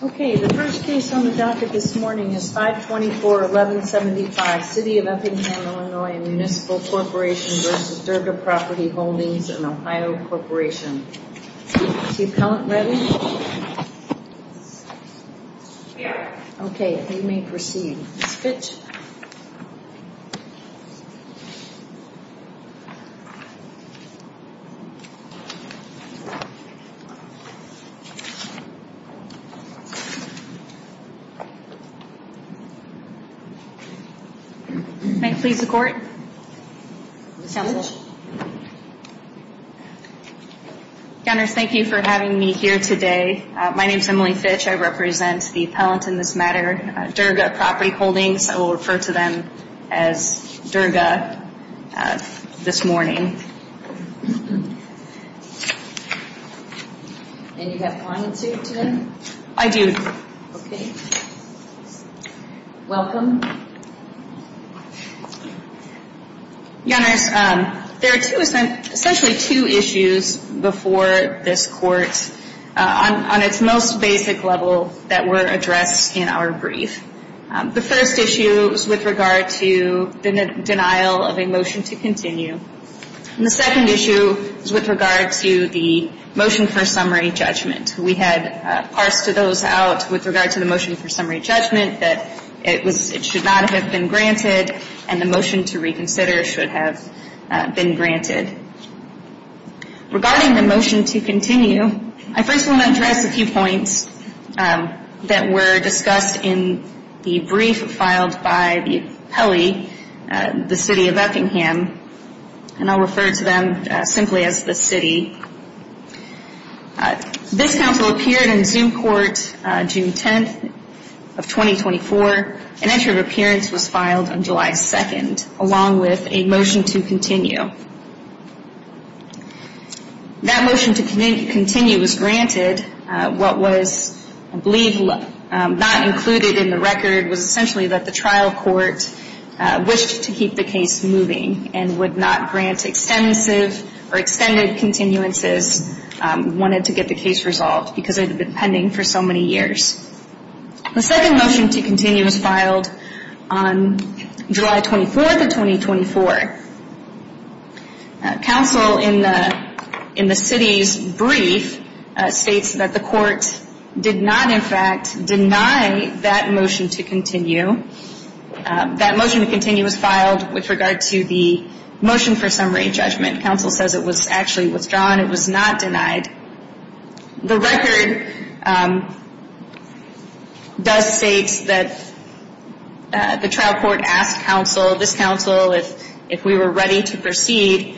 Okay, the first case on the docket this morning is 524-1175, City of Effingham, Illinois and Municipal Corporation v. Durga Property Holdings and Ohio Corporation. Is the appellant ready? Here. Okay, you may proceed. Ms. Fitch. May I please the court? Assemblage. Gunners, thank you for having me here today. My name is Emily Fitch. I represent the appellant in this matter, Durga Property Holdings. I will refer to them as Durga this morning. And you have clients here today? I do. Okay. Welcome. Gunners, there are essentially two issues before this court on its most basic level that were addressed in our brief. The first issue is with regard to the denial of a motion to continue. And the second issue is with regard to the motion for summary judgment. We had parsed those out with regard to the motion for summary judgment that it should not have been granted and the motion to reconsider should have been granted. Regarding the motion to continue, I first want to address a few points that were discussed in the brief filed by the appellee, the City of Effingham. And I'll refer to them simply as the city. This counsel appeared in Zoom court June 10th of 2024. An entry of appearance was filed on July 2nd along with a motion to continue. That motion to continue was granted. What was, I believe, not included in the record was essentially that the trial court wished to keep the case moving and would not grant extensive or extended continuances, wanted to get the case resolved because it had been pending for so many years. The second motion to continue was filed on July 24th of 2024. Counsel in the city's brief states that the court did not, in fact, deny that motion to continue. That motion to continue was filed with regard to the motion for summary judgment. Counsel says it was actually withdrawn. It was not denied. The record does state that the trial court asked counsel, this counsel, if we were ready to proceed.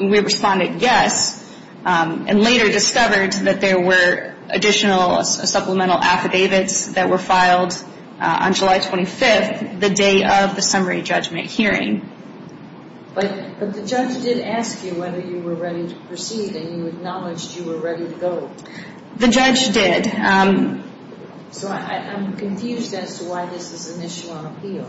We responded yes and later discovered that there were additional supplemental affidavits that were filed on July 25th, the day of the summary judgment hearing. But the judge did ask you whether you were ready to proceed and you acknowledged you were ready to go. The judge did. So I'm confused as to why this is an issue on appeal.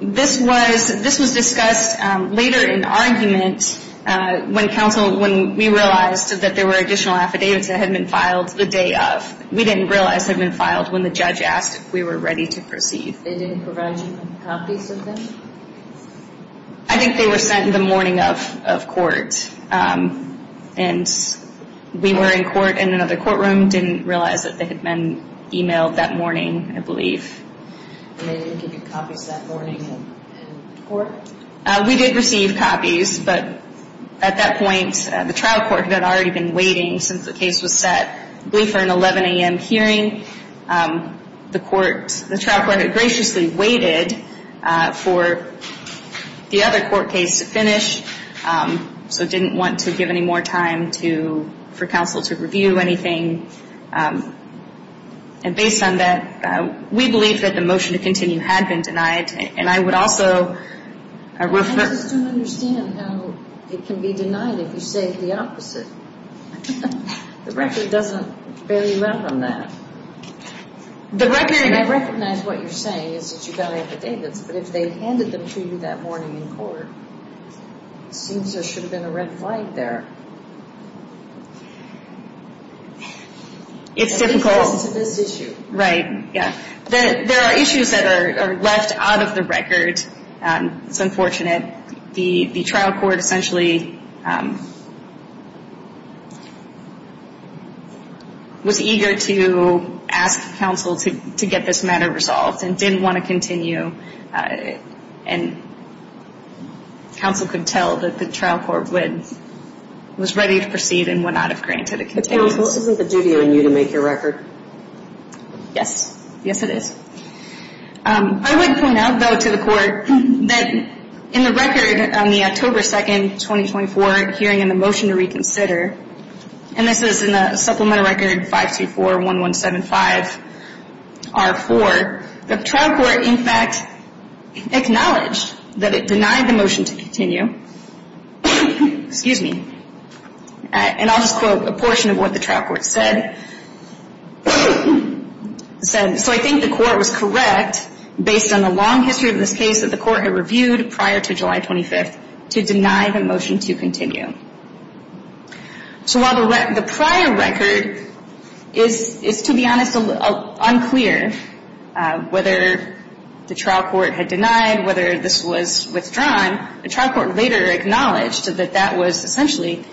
This was discussed later in argument when we realized that there were additional affidavits that had been filed the day of. We didn't realize had been filed when the judge asked if we were ready to proceed. They didn't provide you with copies of them? I think they were sent in the morning of court. And we were in court in another courtroom, didn't realize that they had been emailed that morning, I believe. And they didn't give you copies that morning in court? We did receive copies, but at that point, the trial court had already been waiting since the case was set, I believe for an 11 a.m. hearing. The trial court had graciously waited for the other court case to finish, so didn't want to give any more time for counsel to review anything. And based on that, we believe that the motion to continue had been denied. And I would also refer... I just don't understand how it can be denied if you say the opposite. The record doesn't very well on that. I recognize what you're saying is that you got affidavits, but if they handed them to you that morning in court, seems there should have been a red flag there. It's difficult. It's this issue. Right, yeah. There are issues that are left out of the record. It's unfortunate. The trial court essentially was eager to ask counsel to get this matter resolved and didn't want to continue. And counsel could tell that the trial court was ready to proceed and would not have granted a continuation. This isn't the duty on you to make your record? Yes. Yes, it is. I would point out, though, to the court that in the record on the October 2nd, 2024 hearing in the motion to reconsider, and this is in the supplemental record 5241175R4, the trial court, in fact, acknowledged that it denied the motion to continue. Excuse me. And I'll just quote a portion of what the trial court said. So I think the court was correct, based on the long history of this case that the court had reviewed prior to July 25th, to deny the motion to continue. So while the prior record is, to be honest, unclear whether the trial court had denied, whether this was withdrawn, the trial court later acknowledged that that was essentially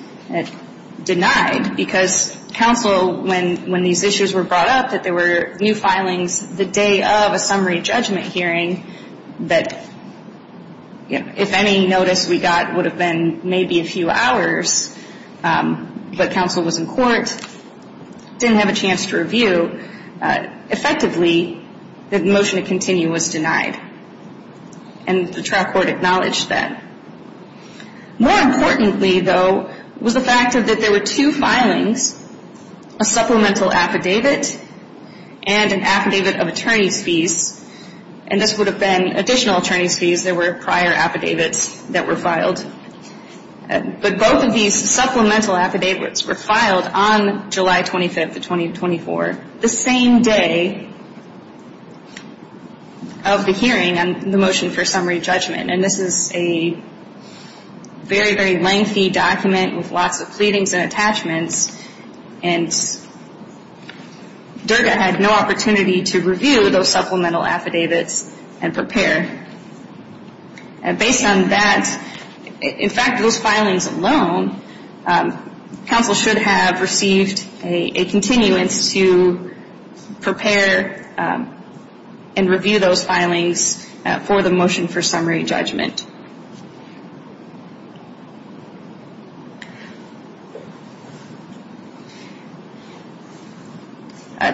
denied because counsel, when these issues were brought up, that there were new filings the day of a summary judgment hearing, that if any notice we got would have been maybe a few hours, but counsel was in court, didn't have a chance to review, effectively, the motion to continue was denied. And the trial court acknowledged that. More importantly, though, was the fact that there were two filings, a supplemental affidavit and an affidavit of attorney's fees, and this would have been additional attorney's fees. There were prior affidavits that were filed. But both of these supplemental affidavits were filed on July 25th of 2024, the same day of the hearing on the motion for summary judgment. And this is a very, very lengthy document with lots of pleadings and attachments, and DERTA had no opportunity to review those supplemental affidavits and prepare. Based on that, in fact, those filings alone, counsel should have received a continuance to prepare and review those filings for the motion for summary judgment.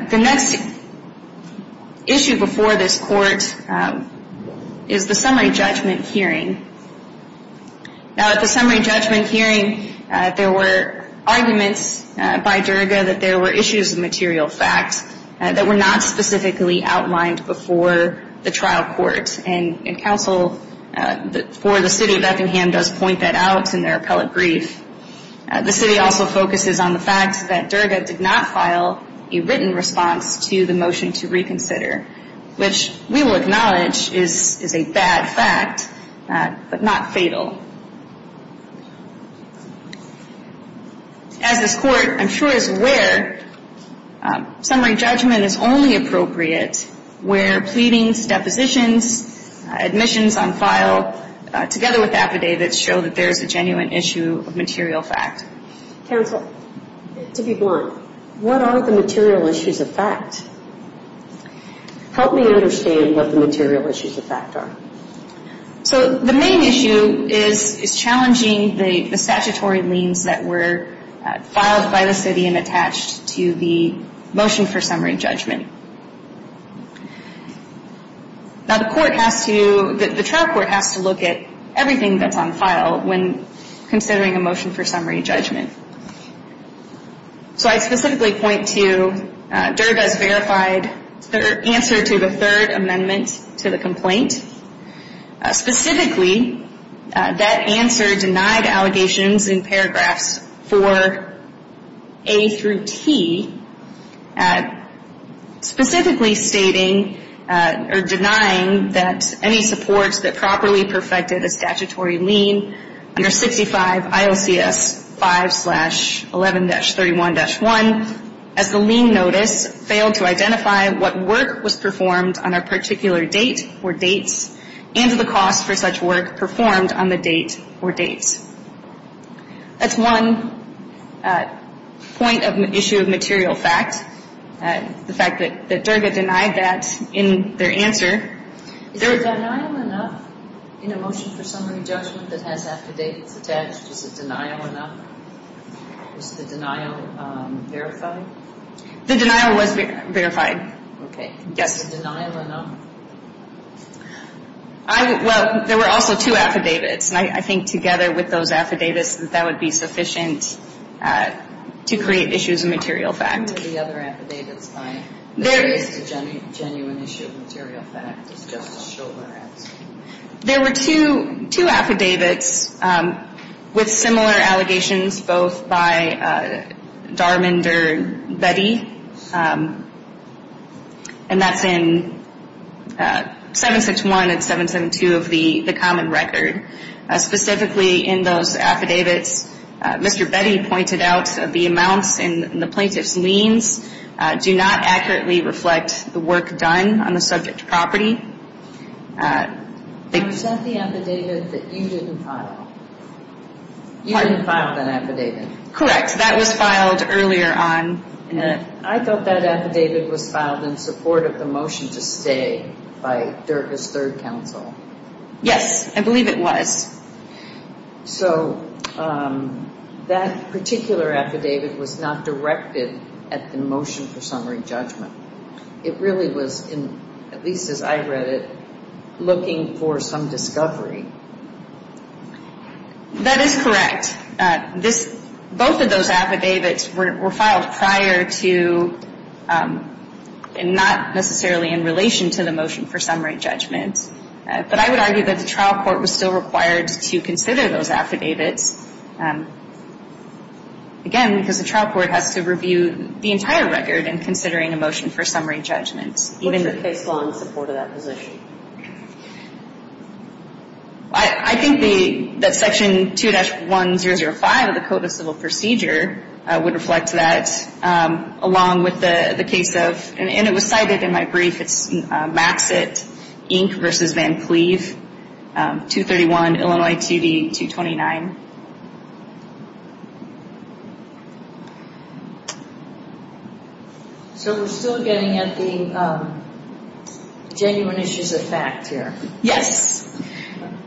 The next issue before this court is the summary judgment hearing. Now, at the summary judgment hearing, there were arguments by DERTA that there were issues of material facts that were not specifically outlined before the trial court. And counsel, the trial court, for the city of Effingham, does point that out in their appellate brief. The city also focuses on the fact that DERTA did not file a written response to the motion to reconsider, which we will acknowledge is a bad fact, but not fatal. As this court, I'm sure, is aware, summary judgment is only appropriate where pleadings, depositions, admissions on file, together with affidavits, show that there is a genuine issue of material fact. Counsel, to be blunt, what are the material issues of fact? Help me understand what the material issues of fact are. So the main issue is challenging the statutory liens that were filed by the city and attached to the motion for summary judgment. Now, the trial court has to look at everything that's on file when considering a motion for summary judgment. So I specifically point to DERTA's verified answer to the third amendment to the complaint. Specifically, that answer denied allegations in paragraphs 4A through T, specifically stating or denying that any supports that properly perfected a statutory lien under 65 IOCS 5-11-31-1, as the lien notice, failed to identify what work was performed on a particular date or dates and the cost for such work performed on the date or dates. That's one point of issue of material fact, the fact that DERTA denied that in their answer. Is the denial enough in a motion for summary judgment that has affidavits attached? Is the denial enough? Is the denial verified? The denial was verified. Okay. Yes. Is the denial enough? Well, there were also two affidavits, and I think together with those affidavits that that would be sufficient to create issues of material fact. I'm referring to the other affidavits. There is a genuine issue of material fact. It's just a shoulder answer. There were two affidavits with similar allegations, both by Darmond or Betty, and that's in 761 and 772 of the common record. Specifically in those affidavits, Mr. Betty pointed out the amounts in the plaintiff's liens do not accurately reflect the work done on the subject property. Is that the affidavit that you didn't file? You didn't file that affidavit? Correct. That was filed earlier on. I thought that affidavit was filed in support of the motion to stay by DERTA's third counsel. Yes, I believe it was. So that particular affidavit was not directed at the motion for summary judgment. It really was, at least as I read it, looking for some discovery. That is correct. Both of those affidavits were filed prior to, and not necessarily in relation to the motion for summary judgment. But I would argue that the trial court was still required to consider those affidavits, again, because the trial court has to review the entire record in considering a motion for summary judgment. What's the case law in support of that position? I think that Section 2-1005 of the Code of Civil Procedure would reflect that, along with the case of, and it was cited in my brief, it's Maxett, Inc. v. Van Cleve, 231 Illinois TV 229. So we're still getting at the genuine issues of fact here. Yes.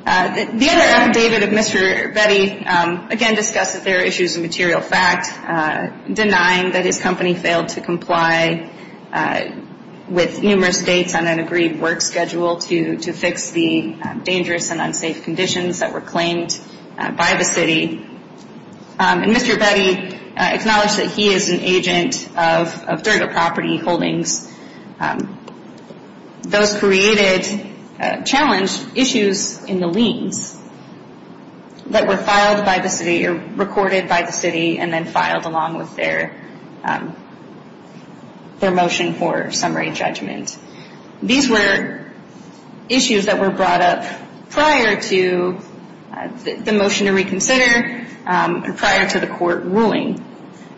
The other affidavit of Mr. Betty, again, discussed that there are issues of material fact, denying that his company failed to comply with numerous dates on an agreed work schedule to fix the dangerous and unsafe conditions that were claimed by the city. And Mr. Betty acknowledged that he is an agent of Durga Property Holdings. Those created challenge issues in the liens that were filed by the city, or recorded by the city and then filed along with their motion for summary judgment. These were issues that were brought up prior to the motion to reconsider and prior to the court ruling.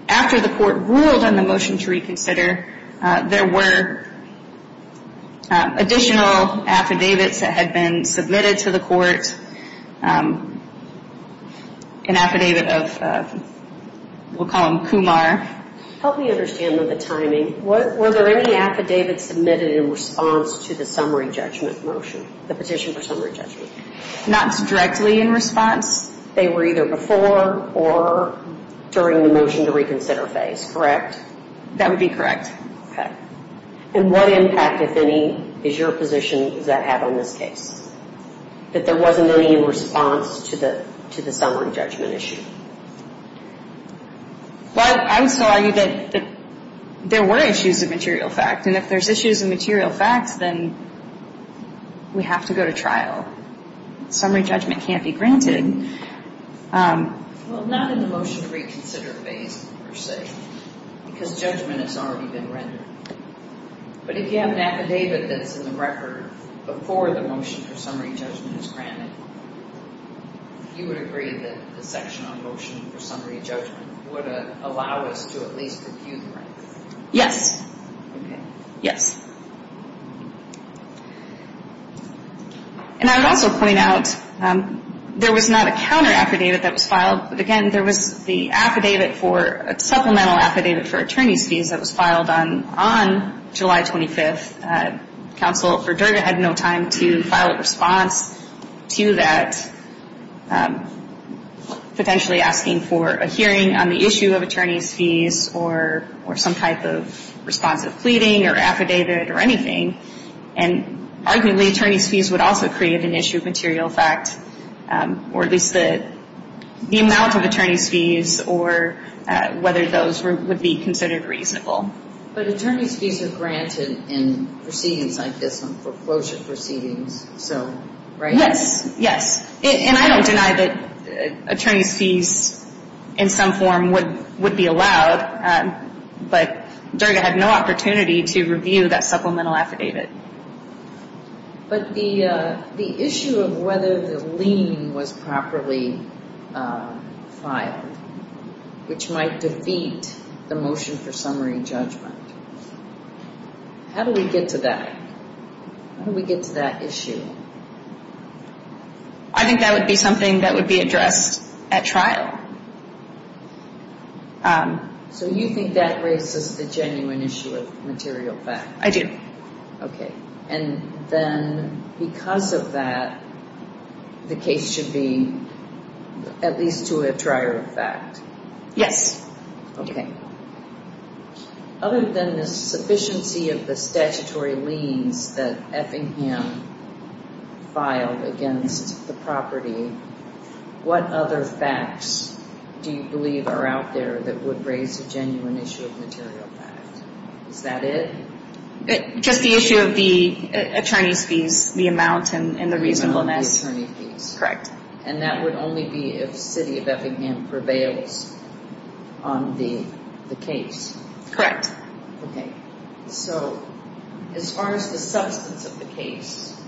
After the court ruled on the motion to reconsider, there were additional affidavits that had been submitted to the court. First, an affidavit of, we'll call him Kumar. Help me understand the timing. Were there any affidavits submitted in response to the summary judgment motion, the petition for summary judgment? Not directly in response. They were either before or during the motion to reconsider phase, correct? That would be correct. Okay. And what impact, if any, does your position have on this case? That there wasn't any response to the summary judgment issue? Well, I would still argue that there were issues of material fact, and if there's issues of material facts, then we have to go to trial. Summary judgment can't be granted. Well, not in the motion to reconsider phase, per se, because judgment has already been rendered. But if you have an affidavit that's in the record before the motion for summary judgment is granted, you would agree that the section on motion for summary judgment would allow us to at least review the record? Yes. Okay. Yes. And I would also point out there was not a counter affidavit that was filed, but, again, there was the affidavit for a supplemental affidavit for attorney's fees that was filed on July 25th. Counsel for Durga had no time to file a response to that, potentially asking for a hearing on the issue of attorney's fees or some type of responsive pleading or affidavit or anything. And, arguably, attorney's fees would also create an issue of material fact, or at least the amount of attorney's fees or whether those would be considered reasonable. But attorney's fees are granted in proceedings like this, on foreclosure proceedings, so, right? Yes. Yes. And I don't deny that attorney's fees in some form would be allowed, but Durga had no opportunity to review that supplemental affidavit. But the issue of whether the lien was properly filed, which might defeat the motion for summary judgment, how do we get to that? How do we get to that issue? I think that would be something that would be addressed at trial. So you think that raises the genuine issue of material fact? I do. Okay. And then because of that, the case should be at least to a trier of fact? Yes. Okay. Other than the sufficiency of the statutory liens that Effingham filed against the property, what other facts do you believe are out there that would raise the genuine issue of material fact? Is that it? Just the issue of the attorney's fees, the amount, and the reasonableness. The amount of the attorney fees. Correct. And that would only be if City of Effingham prevails on the case? Correct. Okay. So as far as the substance of the case,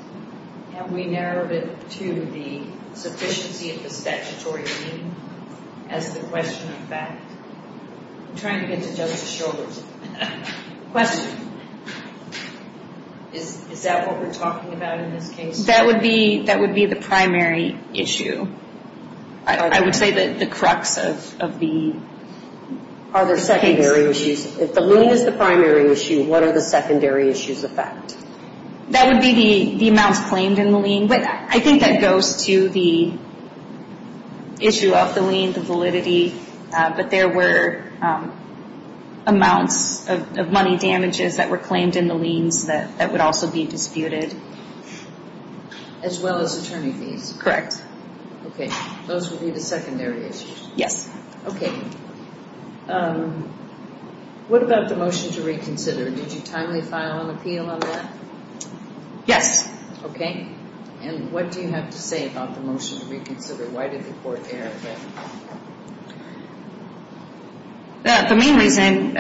have we narrowed it to the sufficiency of the statutory lien as the question of fact? I'm trying to get to Judge's shoulders. Is that what we're talking about in this case? That would be the primary issue. I would say the crux of the case. Are there secondary issues? If the lien is the primary issue, what are the secondary issues of fact? That would be the amounts claimed in the lien, but I think that goes to the issue of the lien, the validity. But there were amounts of money damages that were claimed in the liens that would also be disputed. As well as attorney fees? Correct. Okay. Those would be the secondary issues? Yes. Okay. What about the motion to reconsider? Did you timely file an appeal on that? Yes. Okay. And what do you have to say about the motion to reconsider? Why did the court err? The main reason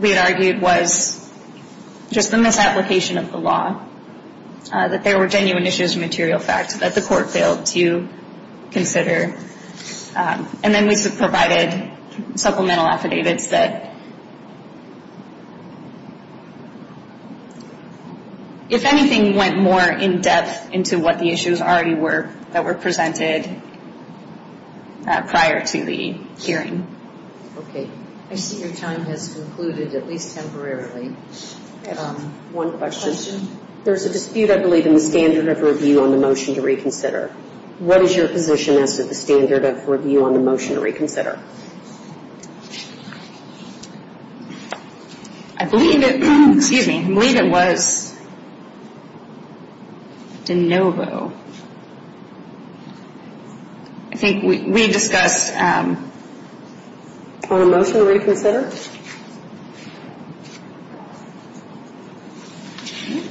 we had argued was just the misapplication of the law, that there were genuine issues of material fact that the court failed to consider. And then we provided supplemental affidavits that, if anything, went more in depth into what the issues already were that were presented prior to the hearing. Okay. I see your time has concluded, at least temporarily. I have one question. There's a dispute, I believe, in the standard of review on the motion to reconsider. What is your position as to the standard of review on the motion to reconsider? I believe it was de novo. I think we discussed. On the motion to reconsider? Okay.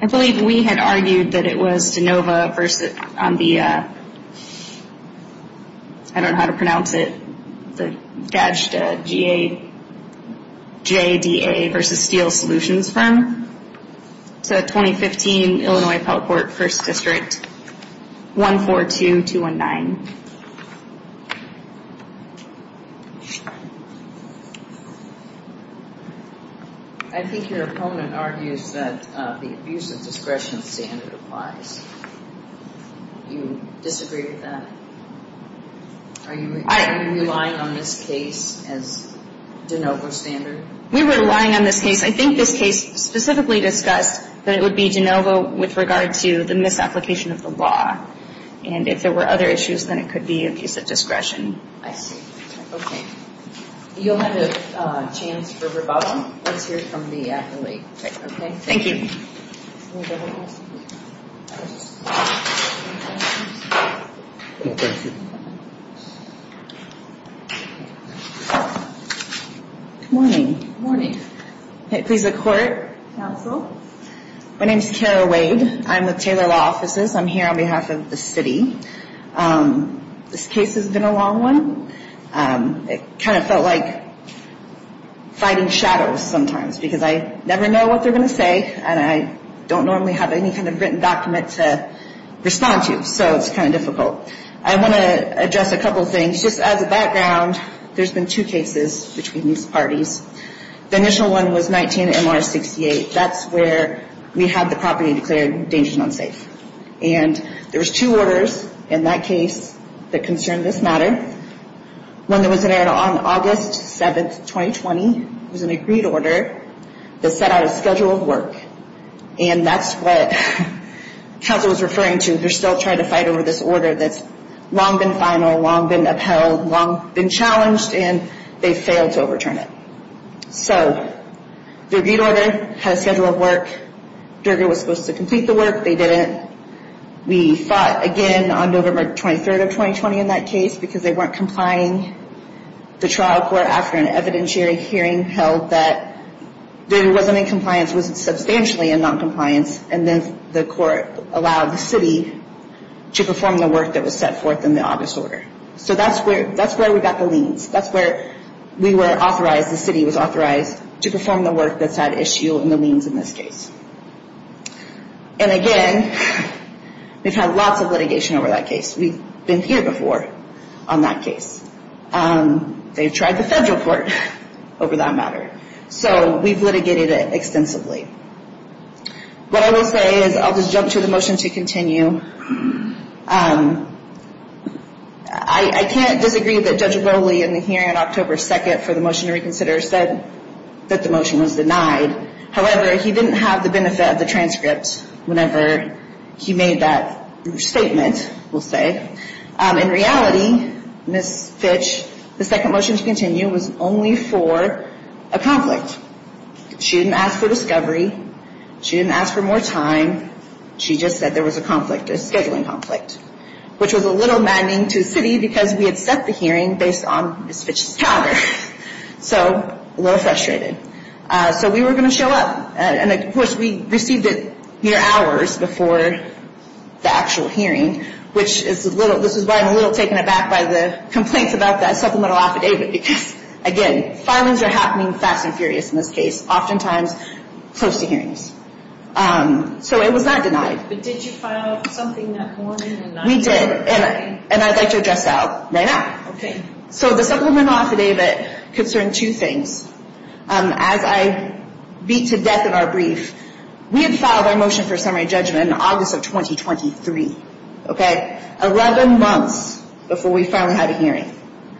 I believe we had argued that it was de novo on the, I don't know how to pronounce it, the Gajda, G-A-J-D-A versus Steele Solutions Firm. It's a 2015 Illinois Pelcourt First District, 142-219. I think your opponent argues that the abuse of discretion standard applies. You disagree with that? Are you relying on this case as de novo standard? We were relying on this case. I think this case specifically discussed that it would be de novo with regard to the misapplication of the law. And if there were other issues, then it could be abuse of discretion. I see. Okay. You'll have a chance for rebuttal once you hear from the accolade. Okay. Thank you. Thank you. Good morning. Good morning. Please look forward. Counsel? My name is Kara Wade. I'm with Taylor Law Offices. I'm here on behalf of the city. This case has been a long one. It kind of felt like fighting shadows sometimes because I never know what they're going to say, and I don't normally have any kind of written document to respond to, so it's kind of difficult. I want to address a couple things. Just as a background, there's been two cases between these parties. The initial one was 19-MR-68. That's where we had the property declared dangerous and unsafe. And there was two orders in that case that concerned this matter. One that was in order on August 7, 2020. It was an agreed order that set out a schedule of work. And that's what counsel was referring to. They're still trying to fight over this order that's long been final, long been upheld, long been challenged, and they failed to overturn it. So the agreed order had a schedule of work. Durga was supposed to complete the work. They didn't. We fought again on November 23, 2020 in that case because they weren't complying. The trial court, after an evidentiary hearing, held that Durga wasn't in compliance, was substantially in noncompliance, and then the court allowed the city to perform the work that was set forth in the August order. So that's where we got the liens. That's where we were authorized, the city was authorized to perform the work that's had issue in the liens in this case. And again, we've had lots of litigation over that case. We've been here before on that case. They've tried the federal court over that matter. So we've litigated it extensively. What I will say is I'll just jump to the motion to continue. I can't disagree that Judge Ogole in the hearing on October 2nd for the motion to reconsider said that the motion was denied. However, he didn't have the benefit of the transcript whenever he made that statement, we'll say. In reality, Ms. Fitch, the second motion to continue was only for a conflict. She didn't ask for discovery. She didn't ask for more time. She just said there was a conflict, a scheduling conflict, which was a little maddening to the city because we had set the hearing based on Ms. Fitch's calendar. So a little frustrated. So we were going to show up. And, of course, we received it mere hours before the actual hearing, which is why I'm a little taken aback by the complaints about that supplemental affidavit because, again, filings are happening fast and furious in this case, oftentimes close to hearings. So it was not denied. But did you file something that morning? We did, and I'd like to address that right now. Okay. So the supplemental affidavit concerned two things. As I beat to death in our brief, we had filed our motion for summary judgment in August of 2023, okay, 11 months before we finally had a hearing,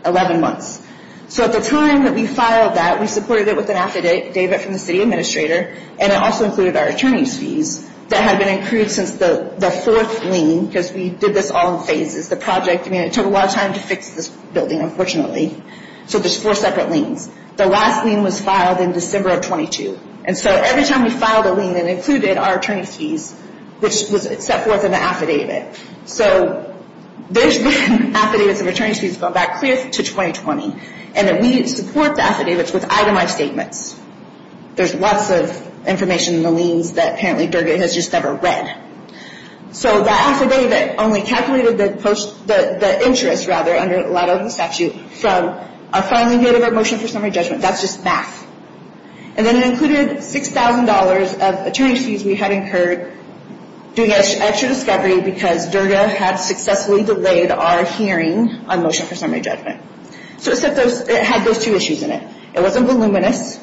11 months. So at the time that we filed that, we supported it with an affidavit from the city administrator, and it also included our attorney's fees that had been accrued since the fourth lien because we did this all in phases. The project, I mean, it took a lot of time to fix this building, unfortunately. So there's four separate liens. The last lien was filed in December of 22. And so every time we filed a lien, it included our attorney's fees, which was set forth in the affidavit. So there's been affidavits of attorney's fees going back clear to 2020, and then we didn't support the affidavits with itemized statements. There's lots of information in the liens that apparently DERGA has just never read. So the affidavit only calculated the interest, rather, under a lot of the statute from our filing date of our motion for summary judgment. That's just math. And then it included $6,000 of attorney's fees we had incurred doing extra discovery because DERGA had successfully delayed our hearing on motion for summary judgment. So it had those two issues in it. It wasn't voluminous. So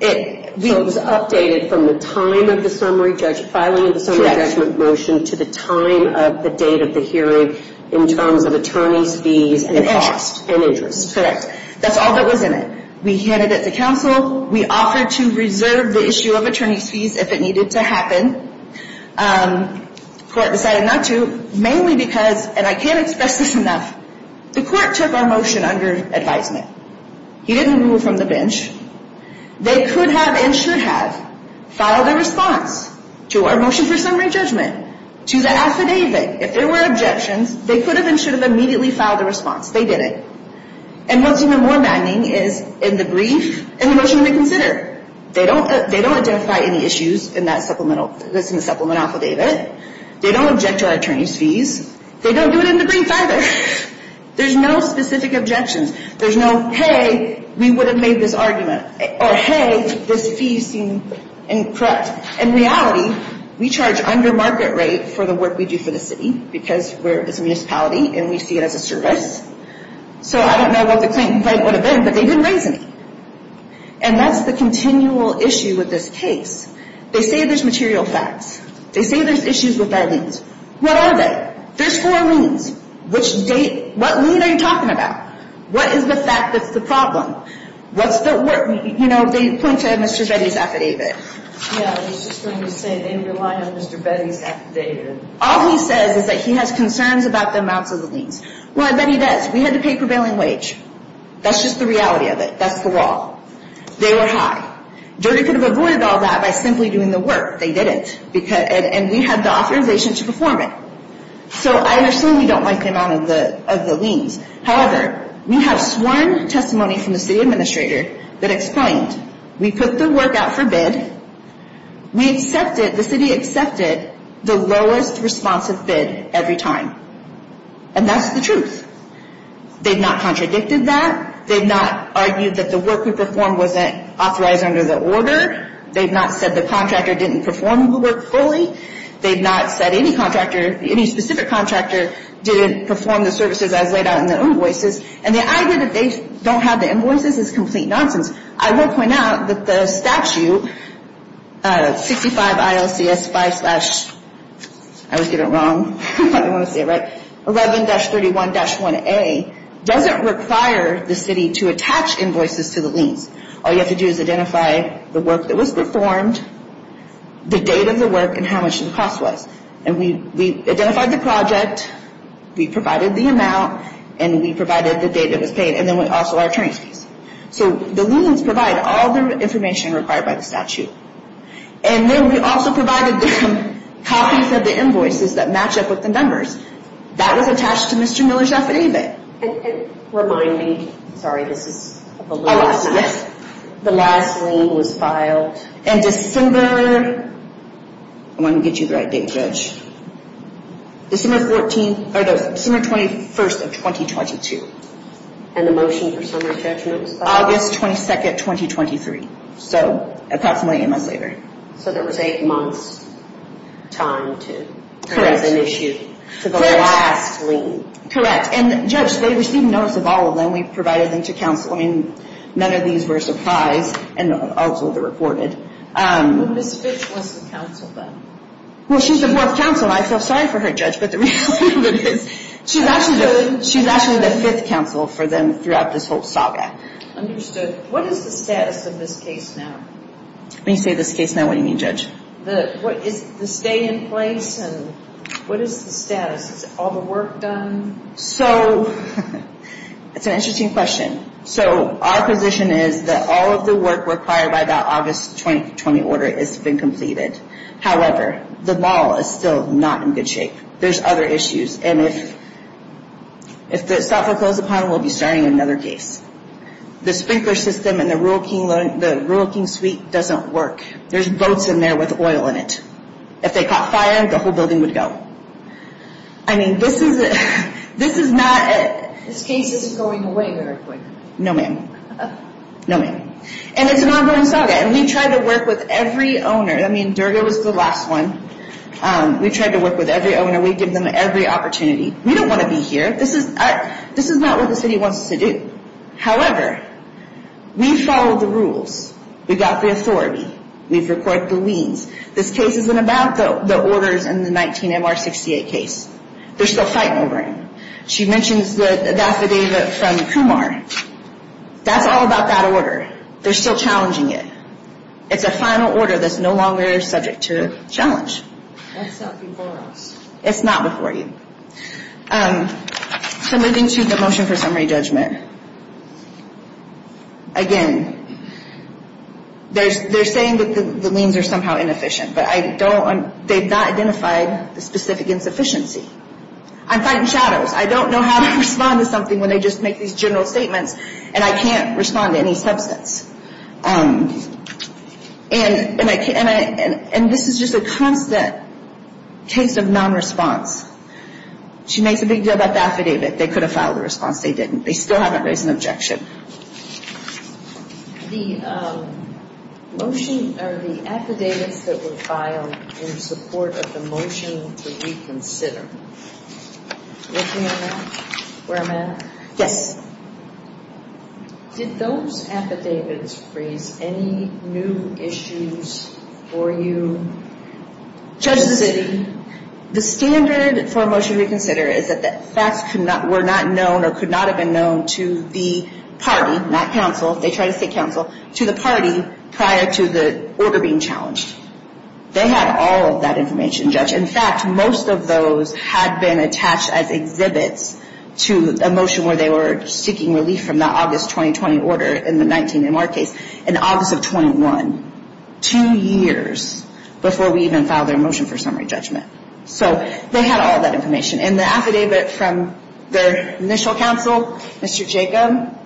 it was updated from the time of the filing of the summary judgment motion to the time of the date of the hearing in terms of attorney's fees and cost and interest. Correct. That's all that was in it. We handed it to counsel. We offered to reserve the issue of attorney's fees if it needed to happen. The court decided not to, mainly because, and I can't express this enough, the court took our motion under advisement. He didn't rule from the bench. They could have and should have filed a response to our motion for summary judgment to the affidavit. If there were objections, they could have and should have immediately filed a response. They didn't. And what's even more maddening is in the brief and the motion to consider. They don't identify any issues in the supplement affidavit. They don't object to our attorney's fees. They don't do it in the brief either. There's no specific objections. There's no, hey, we would have made this argument. Or, hey, this fee seemed incorrect. In reality, we charge under market rate for the work we do for the city because it's a municipality and we see it as a service. So I don't know what the claim would have been, but they didn't raise any. And that's the continual issue with this case. They say there's material facts. They say there's issues with bad liens. What are they? There's four liens. Which date? What lien are you talking about? What is the fact that's the problem? What's the work? You know, they point to Mr. Betty's affidavit. Yeah, I was just going to say they rely on Mr. Betty's affidavit. All he says is that he has concerns about the amounts of the liens. Well, I bet he does. We had to pay prevailing wage. That's just the reality of it. That's the law. They were high. Dirty could have avoided all that by simply doing the work. They didn't. And we had the authorization to perform it. So I assume you don't like the amount of the liens. However, we have sworn testimony from the city administrator that explained, we put the work out for bid. We accepted, the city accepted the lowest responsive bid every time. And that's the truth. They've not contradicted that. They've not argued that the work we performed wasn't authorized under the order. They've not said the contractor didn't perform the work fully. They've not said any contractor, any specific contractor, didn't perform the services as laid out in the invoices. And the idea that they don't have the invoices is complete nonsense. I will point out that the statute, 65 ILCS 5 slash, I always get it wrong. 11-31-1A, doesn't require the city to attach invoices to the liens. All you have to do is identify the work that was performed, the date of the work, and how much the cost was. And we identified the project, we provided the amount, and we provided the date it was paid, and then also our attorney's fees. So the liens provide all the information required by the statute. And then we also provided copies of the invoices that match up with the numbers. That was attached to Mr. Miller's affidavit. And remind me, sorry, this is the last time. The last lien was filed. In December, I want to get you the right date, Judge. December 14th, or December 21st of 2022. And the motion for summary judgment was filed? August 22nd, 2023. So approximately eight months later. So there was eight months' time to present an issue to the last lien. Correct. And, Judge, they received notice of all of them. We provided them to counsel. I mean, none of these were a surprise, and also they're reported. Ms. Fitch was the counsel then. Well, she's the fourth counsel. I said, sorry for her, Judge, but the reality of it is she's actually the fifth counsel for them throughout this whole saga. Understood. What is the status of this case now? When you say this case now, what do you mean, Judge? Is the stay in place? And what is the status? Is all the work done? So, it's an interesting question. So our position is that all of the work required by that August 2020 order has been completed. However, the mall is still not in good shape. There's other issues. And if the stock were closed upon, we'll be starting another case. The sprinkler system in the Rural King suite doesn't work. There's boats in there with oil in it. If they caught fire, the whole building would go. I mean, this is not a... This case isn't going away very quickly. No, ma'am. No, ma'am. And it's an ongoing saga, and we try to work with every owner. I mean, Durga was the last one. We tried to work with every owner. We give them every opportunity. We don't want to be here. This is not what the city wants us to do. However, we follow the rules. We've got the authority. We've recorded the liens. This case isn't about the orders in the 19-MR-68 case. They're still fighting over it. She mentions the affidavit from Kumar. That's all about that order. They're still challenging it. It's a final order that's no longer subject to challenge. That's not before us. It's not before you. So moving to the motion for summary judgment. Again, they're saying that the liens are somehow inefficient, but they've not identified the specific insufficiency. I'm fighting shadows. I don't know how to respond to something when they just make these general statements, and I can't respond to any substance. And this is just a constant case of nonresponse. She makes a big deal about the affidavit. They could have filed a response. They didn't. They still haven't raised an objection. The motion or the affidavits that were filed in support of the motion to reconsider. With me on that? Where am I? Yes. Did those affidavits raise any new issues for you? Judge, the standard for a motion to reconsider is that the facts were not known or could not have been known to the party, not counsel. They tried to seek counsel to the party prior to the order being challenged. They had all of that information, Judge. In fact, most of those had been attached as exhibits to a motion where they were seeking relief from the August 2020 order in the 19MR case in August of 21, two years before we even filed their motion for summary judgment. So they had all that information. And the affidavit from their initial counsel, Mr. Jacob,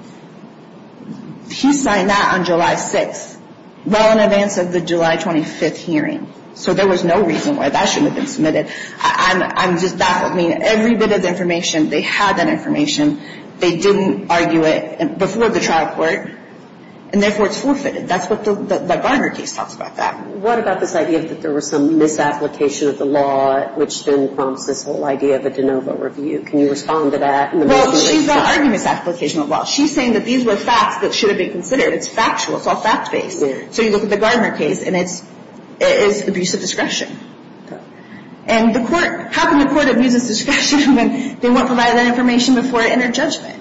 he signed that on July 6th, well in advance of the July 25th hearing. So there was no reason why that shouldn't have been submitted. I'm just baffled. I mean, every bit of information, they had that information. They didn't argue it before the trial court, and therefore it's forfeited. That's what the Barnard case talks about that. What about this idea that there was some misapplication of the law, which then prompts this whole idea of a de novo review? Can you respond to that? Well, she's not arguing misapplication of the law. She's saying that these were facts that should have been considered. It's factual. It's all fact-based. So you look at the Garner case, and it is abuse of discretion. And the court, how can the court abuse its discretion when they won't provide that information before it entered judgment?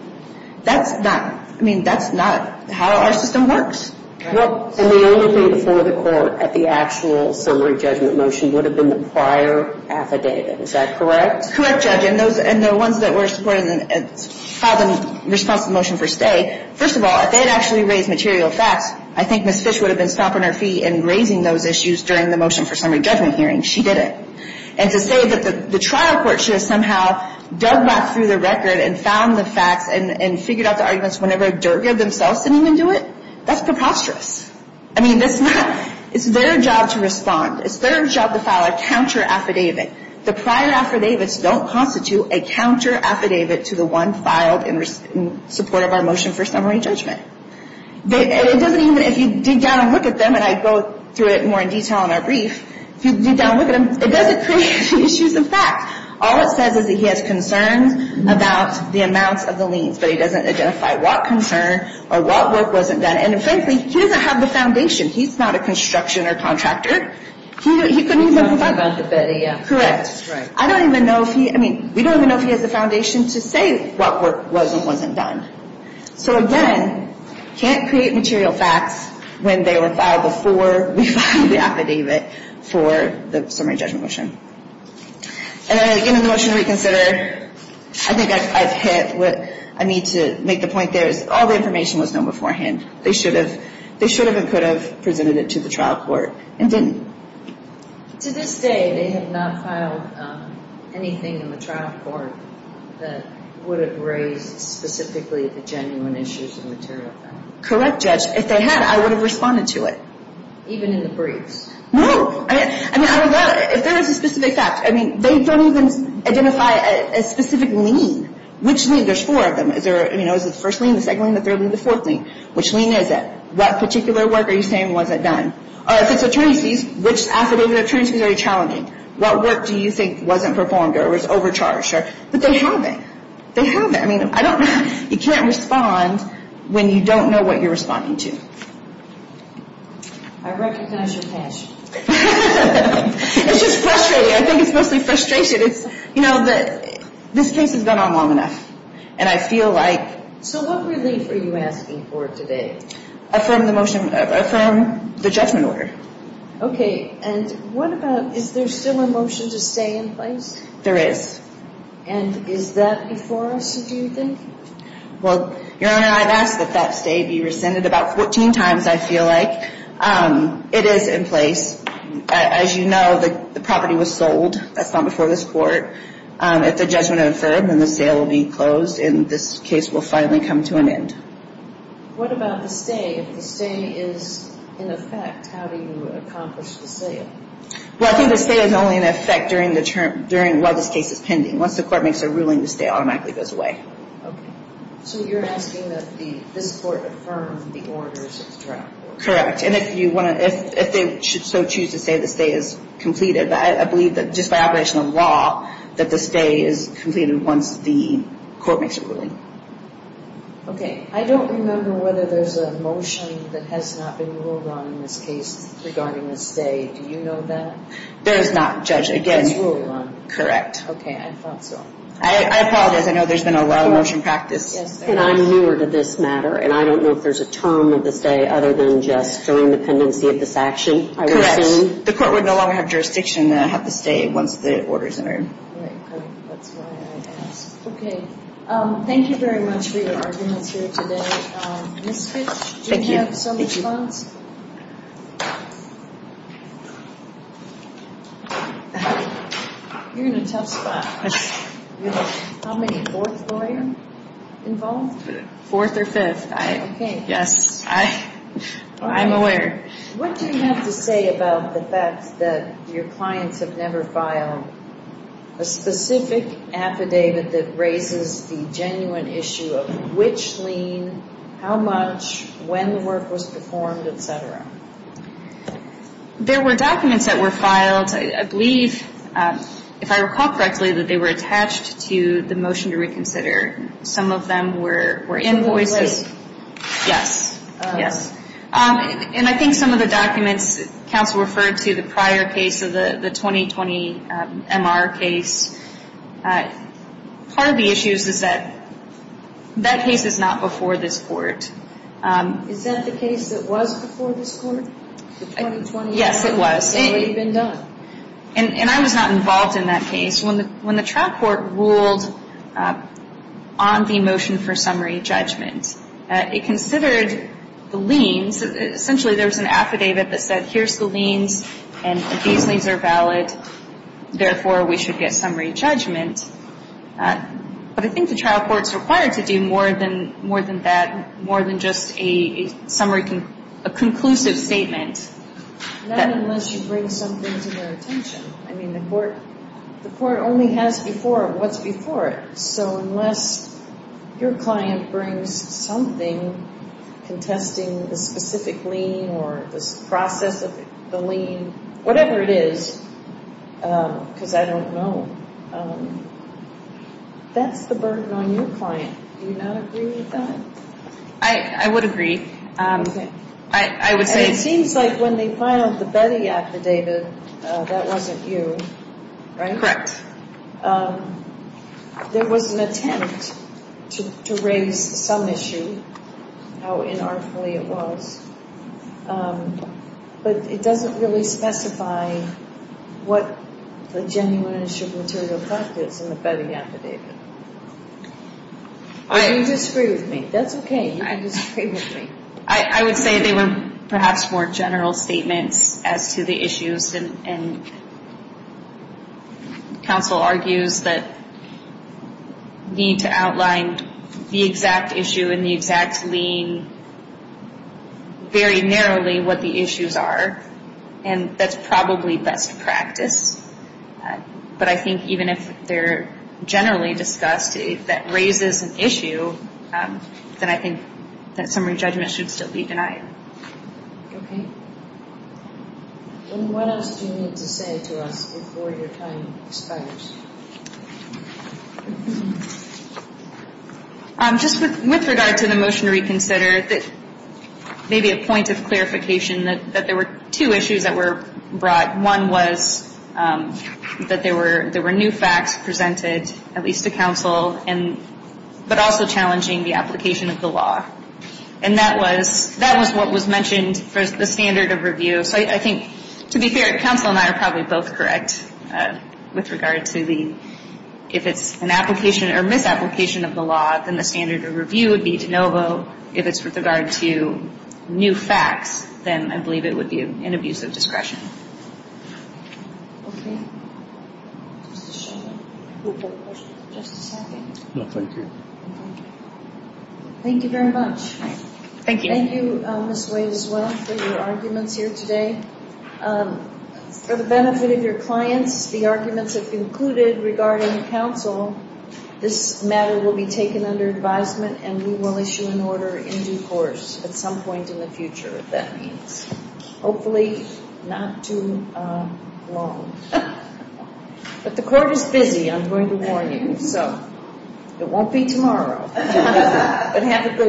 That's not, I mean, that's not how our system works. And the only thing before the court at the actual summary judgment motion would have been the prior affidavit. Is that correct? Correct, Judge. And the ones that were filed in response to the motion for stay, first of all, if they had actually raised material facts, I think Ms. Fish would have been stomping her feet in raising those issues during the motion for summary judgment hearing. She didn't. And to say that the trial court should have somehow dug back through the record and found the facts and figured out the arguments whenever Durga themselves didn't even do it, that's preposterous. I mean, that's not, it's their job to respond. It's their job to file a counter affidavit. The prior affidavits don't constitute a counter affidavit to the one filed in support of our motion for summary judgment. It doesn't even, if you dig down and look at them, and I go through it more in detail in our brief, if you dig down and look at them, it doesn't create issues of fact. All it says is that he has concerns about the amounts of the liens, but he doesn't identify what concern or what work wasn't done. And frankly, he doesn't have the foundation. He's not a construction or contractor. He couldn't even provide. He's talking about the betty, yeah. Correct. That's right. I don't even know if he, I mean, we don't even know if he has the foundation to say what work was and wasn't done. So again, can't create material facts when they were filed before we filed the affidavit for the summary judgment motion. And again, in the motion to reconsider, I think I've hit what I need to make the point there is all the information was known beforehand. They should have and could have presented it to the trial court and didn't. To this day, they have not filed anything in the trial court that would have raised specifically the genuine issues and material facts. Correct, Judge. If they had, I would have responded to it. Even in the briefs? No. I mean, I don't know. If there was a specific fact, I mean, they don't even identify a specific lien. Which lien? There's four of them. Is it the first lien, the second lien, the third lien, the fourth lien? Which lien is it? What particular work are you saying wasn't done? If it's attorneys, which affidavit attorneys are you challenging? What work do you think wasn't performed or was overcharged? But they haven't. They haven't. I mean, I don't know. You can't respond when you don't know what you're responding to. I recognize your passion. It's just frustrating. I think it's mostly frustration. You know, this case has gone on long enough, and I feel like... So what relief are you asking for today? Affirm the motion. Affirm the judgment order. Okay. And what about is there still a motion to stay in place? There is. And is that before us, do you think? Well, Your Honor, I've asked that that stay be rescinded about 14 times, I feel like. It is in place. As you know, the property was sold. That's not before this court. If the judgment is affirmed, then the sale will be closed, and this case will finally come to an end. What about the stay? If the stay is in effect, how do you accomplish the sale? Well, I think the stay is only in effect while this case is pending. Once the court makes a ruling, the stay automatically goes away. Okay. So you're asking that this court affirm the orders of the drug court? Correct. And if they so choose to say the stay is completed, I believe that just by operation of law that the stay is completed once the court makes a ruling. Okay. I don't remember whether there's a motion that has not been ruled on in this case regarding the stay. Do you know that? There is not, Judge. It gets ruled on. Correct. Okay, I thought so. I apologize. I know there's been a lot of motion practice. And I'm newer to this matter, and I don't know if there's a term of the stay other than just during the pendency of this action, I would assume. The court would no longer have jurisdiction to have the stay once the order is entered. Right. That's why I asked. Okay. Thank you very much for your arguments here today. Ms. Fitch, do you have some response? Thank you. You're in a tough spot. How many fourth lawyer involved? Fourth or fifth. Okay. Yes. I'm a lawyer. What do you have to say about the fact that your clients have never filed a specific affidavit that raises the genuine issue of which lien, how much, when the work was performed, et cetera? There were documents that were filed. I believe, if I recall correctly, that they were attached to the motion to reconsider. Some of them were invoices. Yes. Yes. And I think some of the documents, counsel referred to the prior case of the 2020 MR case. Part of the issue is that that case is not before this court. Is that the case that was before this court? The 2020 MR? Yes, it was. And it had already been done. And I was not involved in that case. When the trial court ruled on the motion for summary judgment, it considered the liens. Essentially, there was an affidavit that said, here's the liens, and these liens are valid. Therefore, we should get summary judgment. But I think the trial court is required to do more than that, more than just a summary, a conclusive statement. Not unless you bring something to their attention. I mean, the court only has before what's before it. So unless your client brings something contesting the specific lien or the process of the lien, whatever it is, because I don't know, that's the burden on your client. Do you not agree with that? I would agree. Okay. And it seems like when they filed the Betty affidavit, that wasn't you, right? There was an attempt to raise some issue, how inartful it was. But it doesn't really specify what the genuineness of material theft is in the Betty affidavit. You disagree with me. That's okay. You can disagree with me. I would say they were perhaps more general statements as to the issues. And counsel argues that we need to outline the exact issue and the exact lien very narrowly what the issues are. And that's probably best practice. But I think even if they're generally discussed, if that raises an issue, then I think that summary judgment should still be denied. Okay. What else do you need to say to us before your time expires? Just with regard to the motion to reconsider, maybe a point of clarification that there were two issues that were brought. One was that there were new facts presented, at least to counsel, but also challenging the application of the law. And that was what was mentioned for the standard of review. So I think, to be fair, counsel and I are probably both correct with regard to the if it's an application or misapplication of the law, then the standard of review would be de novo. If it's with regard to new facts, then I believe it would be an abuse of discretion. Okay. Just a second. No, thank you. Thank you very much. Thank you. Thank you, Ms. Wade, as well, for your arguments here today. For the benefit of your clients, the arguments have concluded regarding counsel. This matter will be taken under advisement, and we will issue an order in due course at some point in the future, if that means. Hopefully not too long. But the court is busy, I'm going to warn you, so it won't be tomorrow. But have a good day.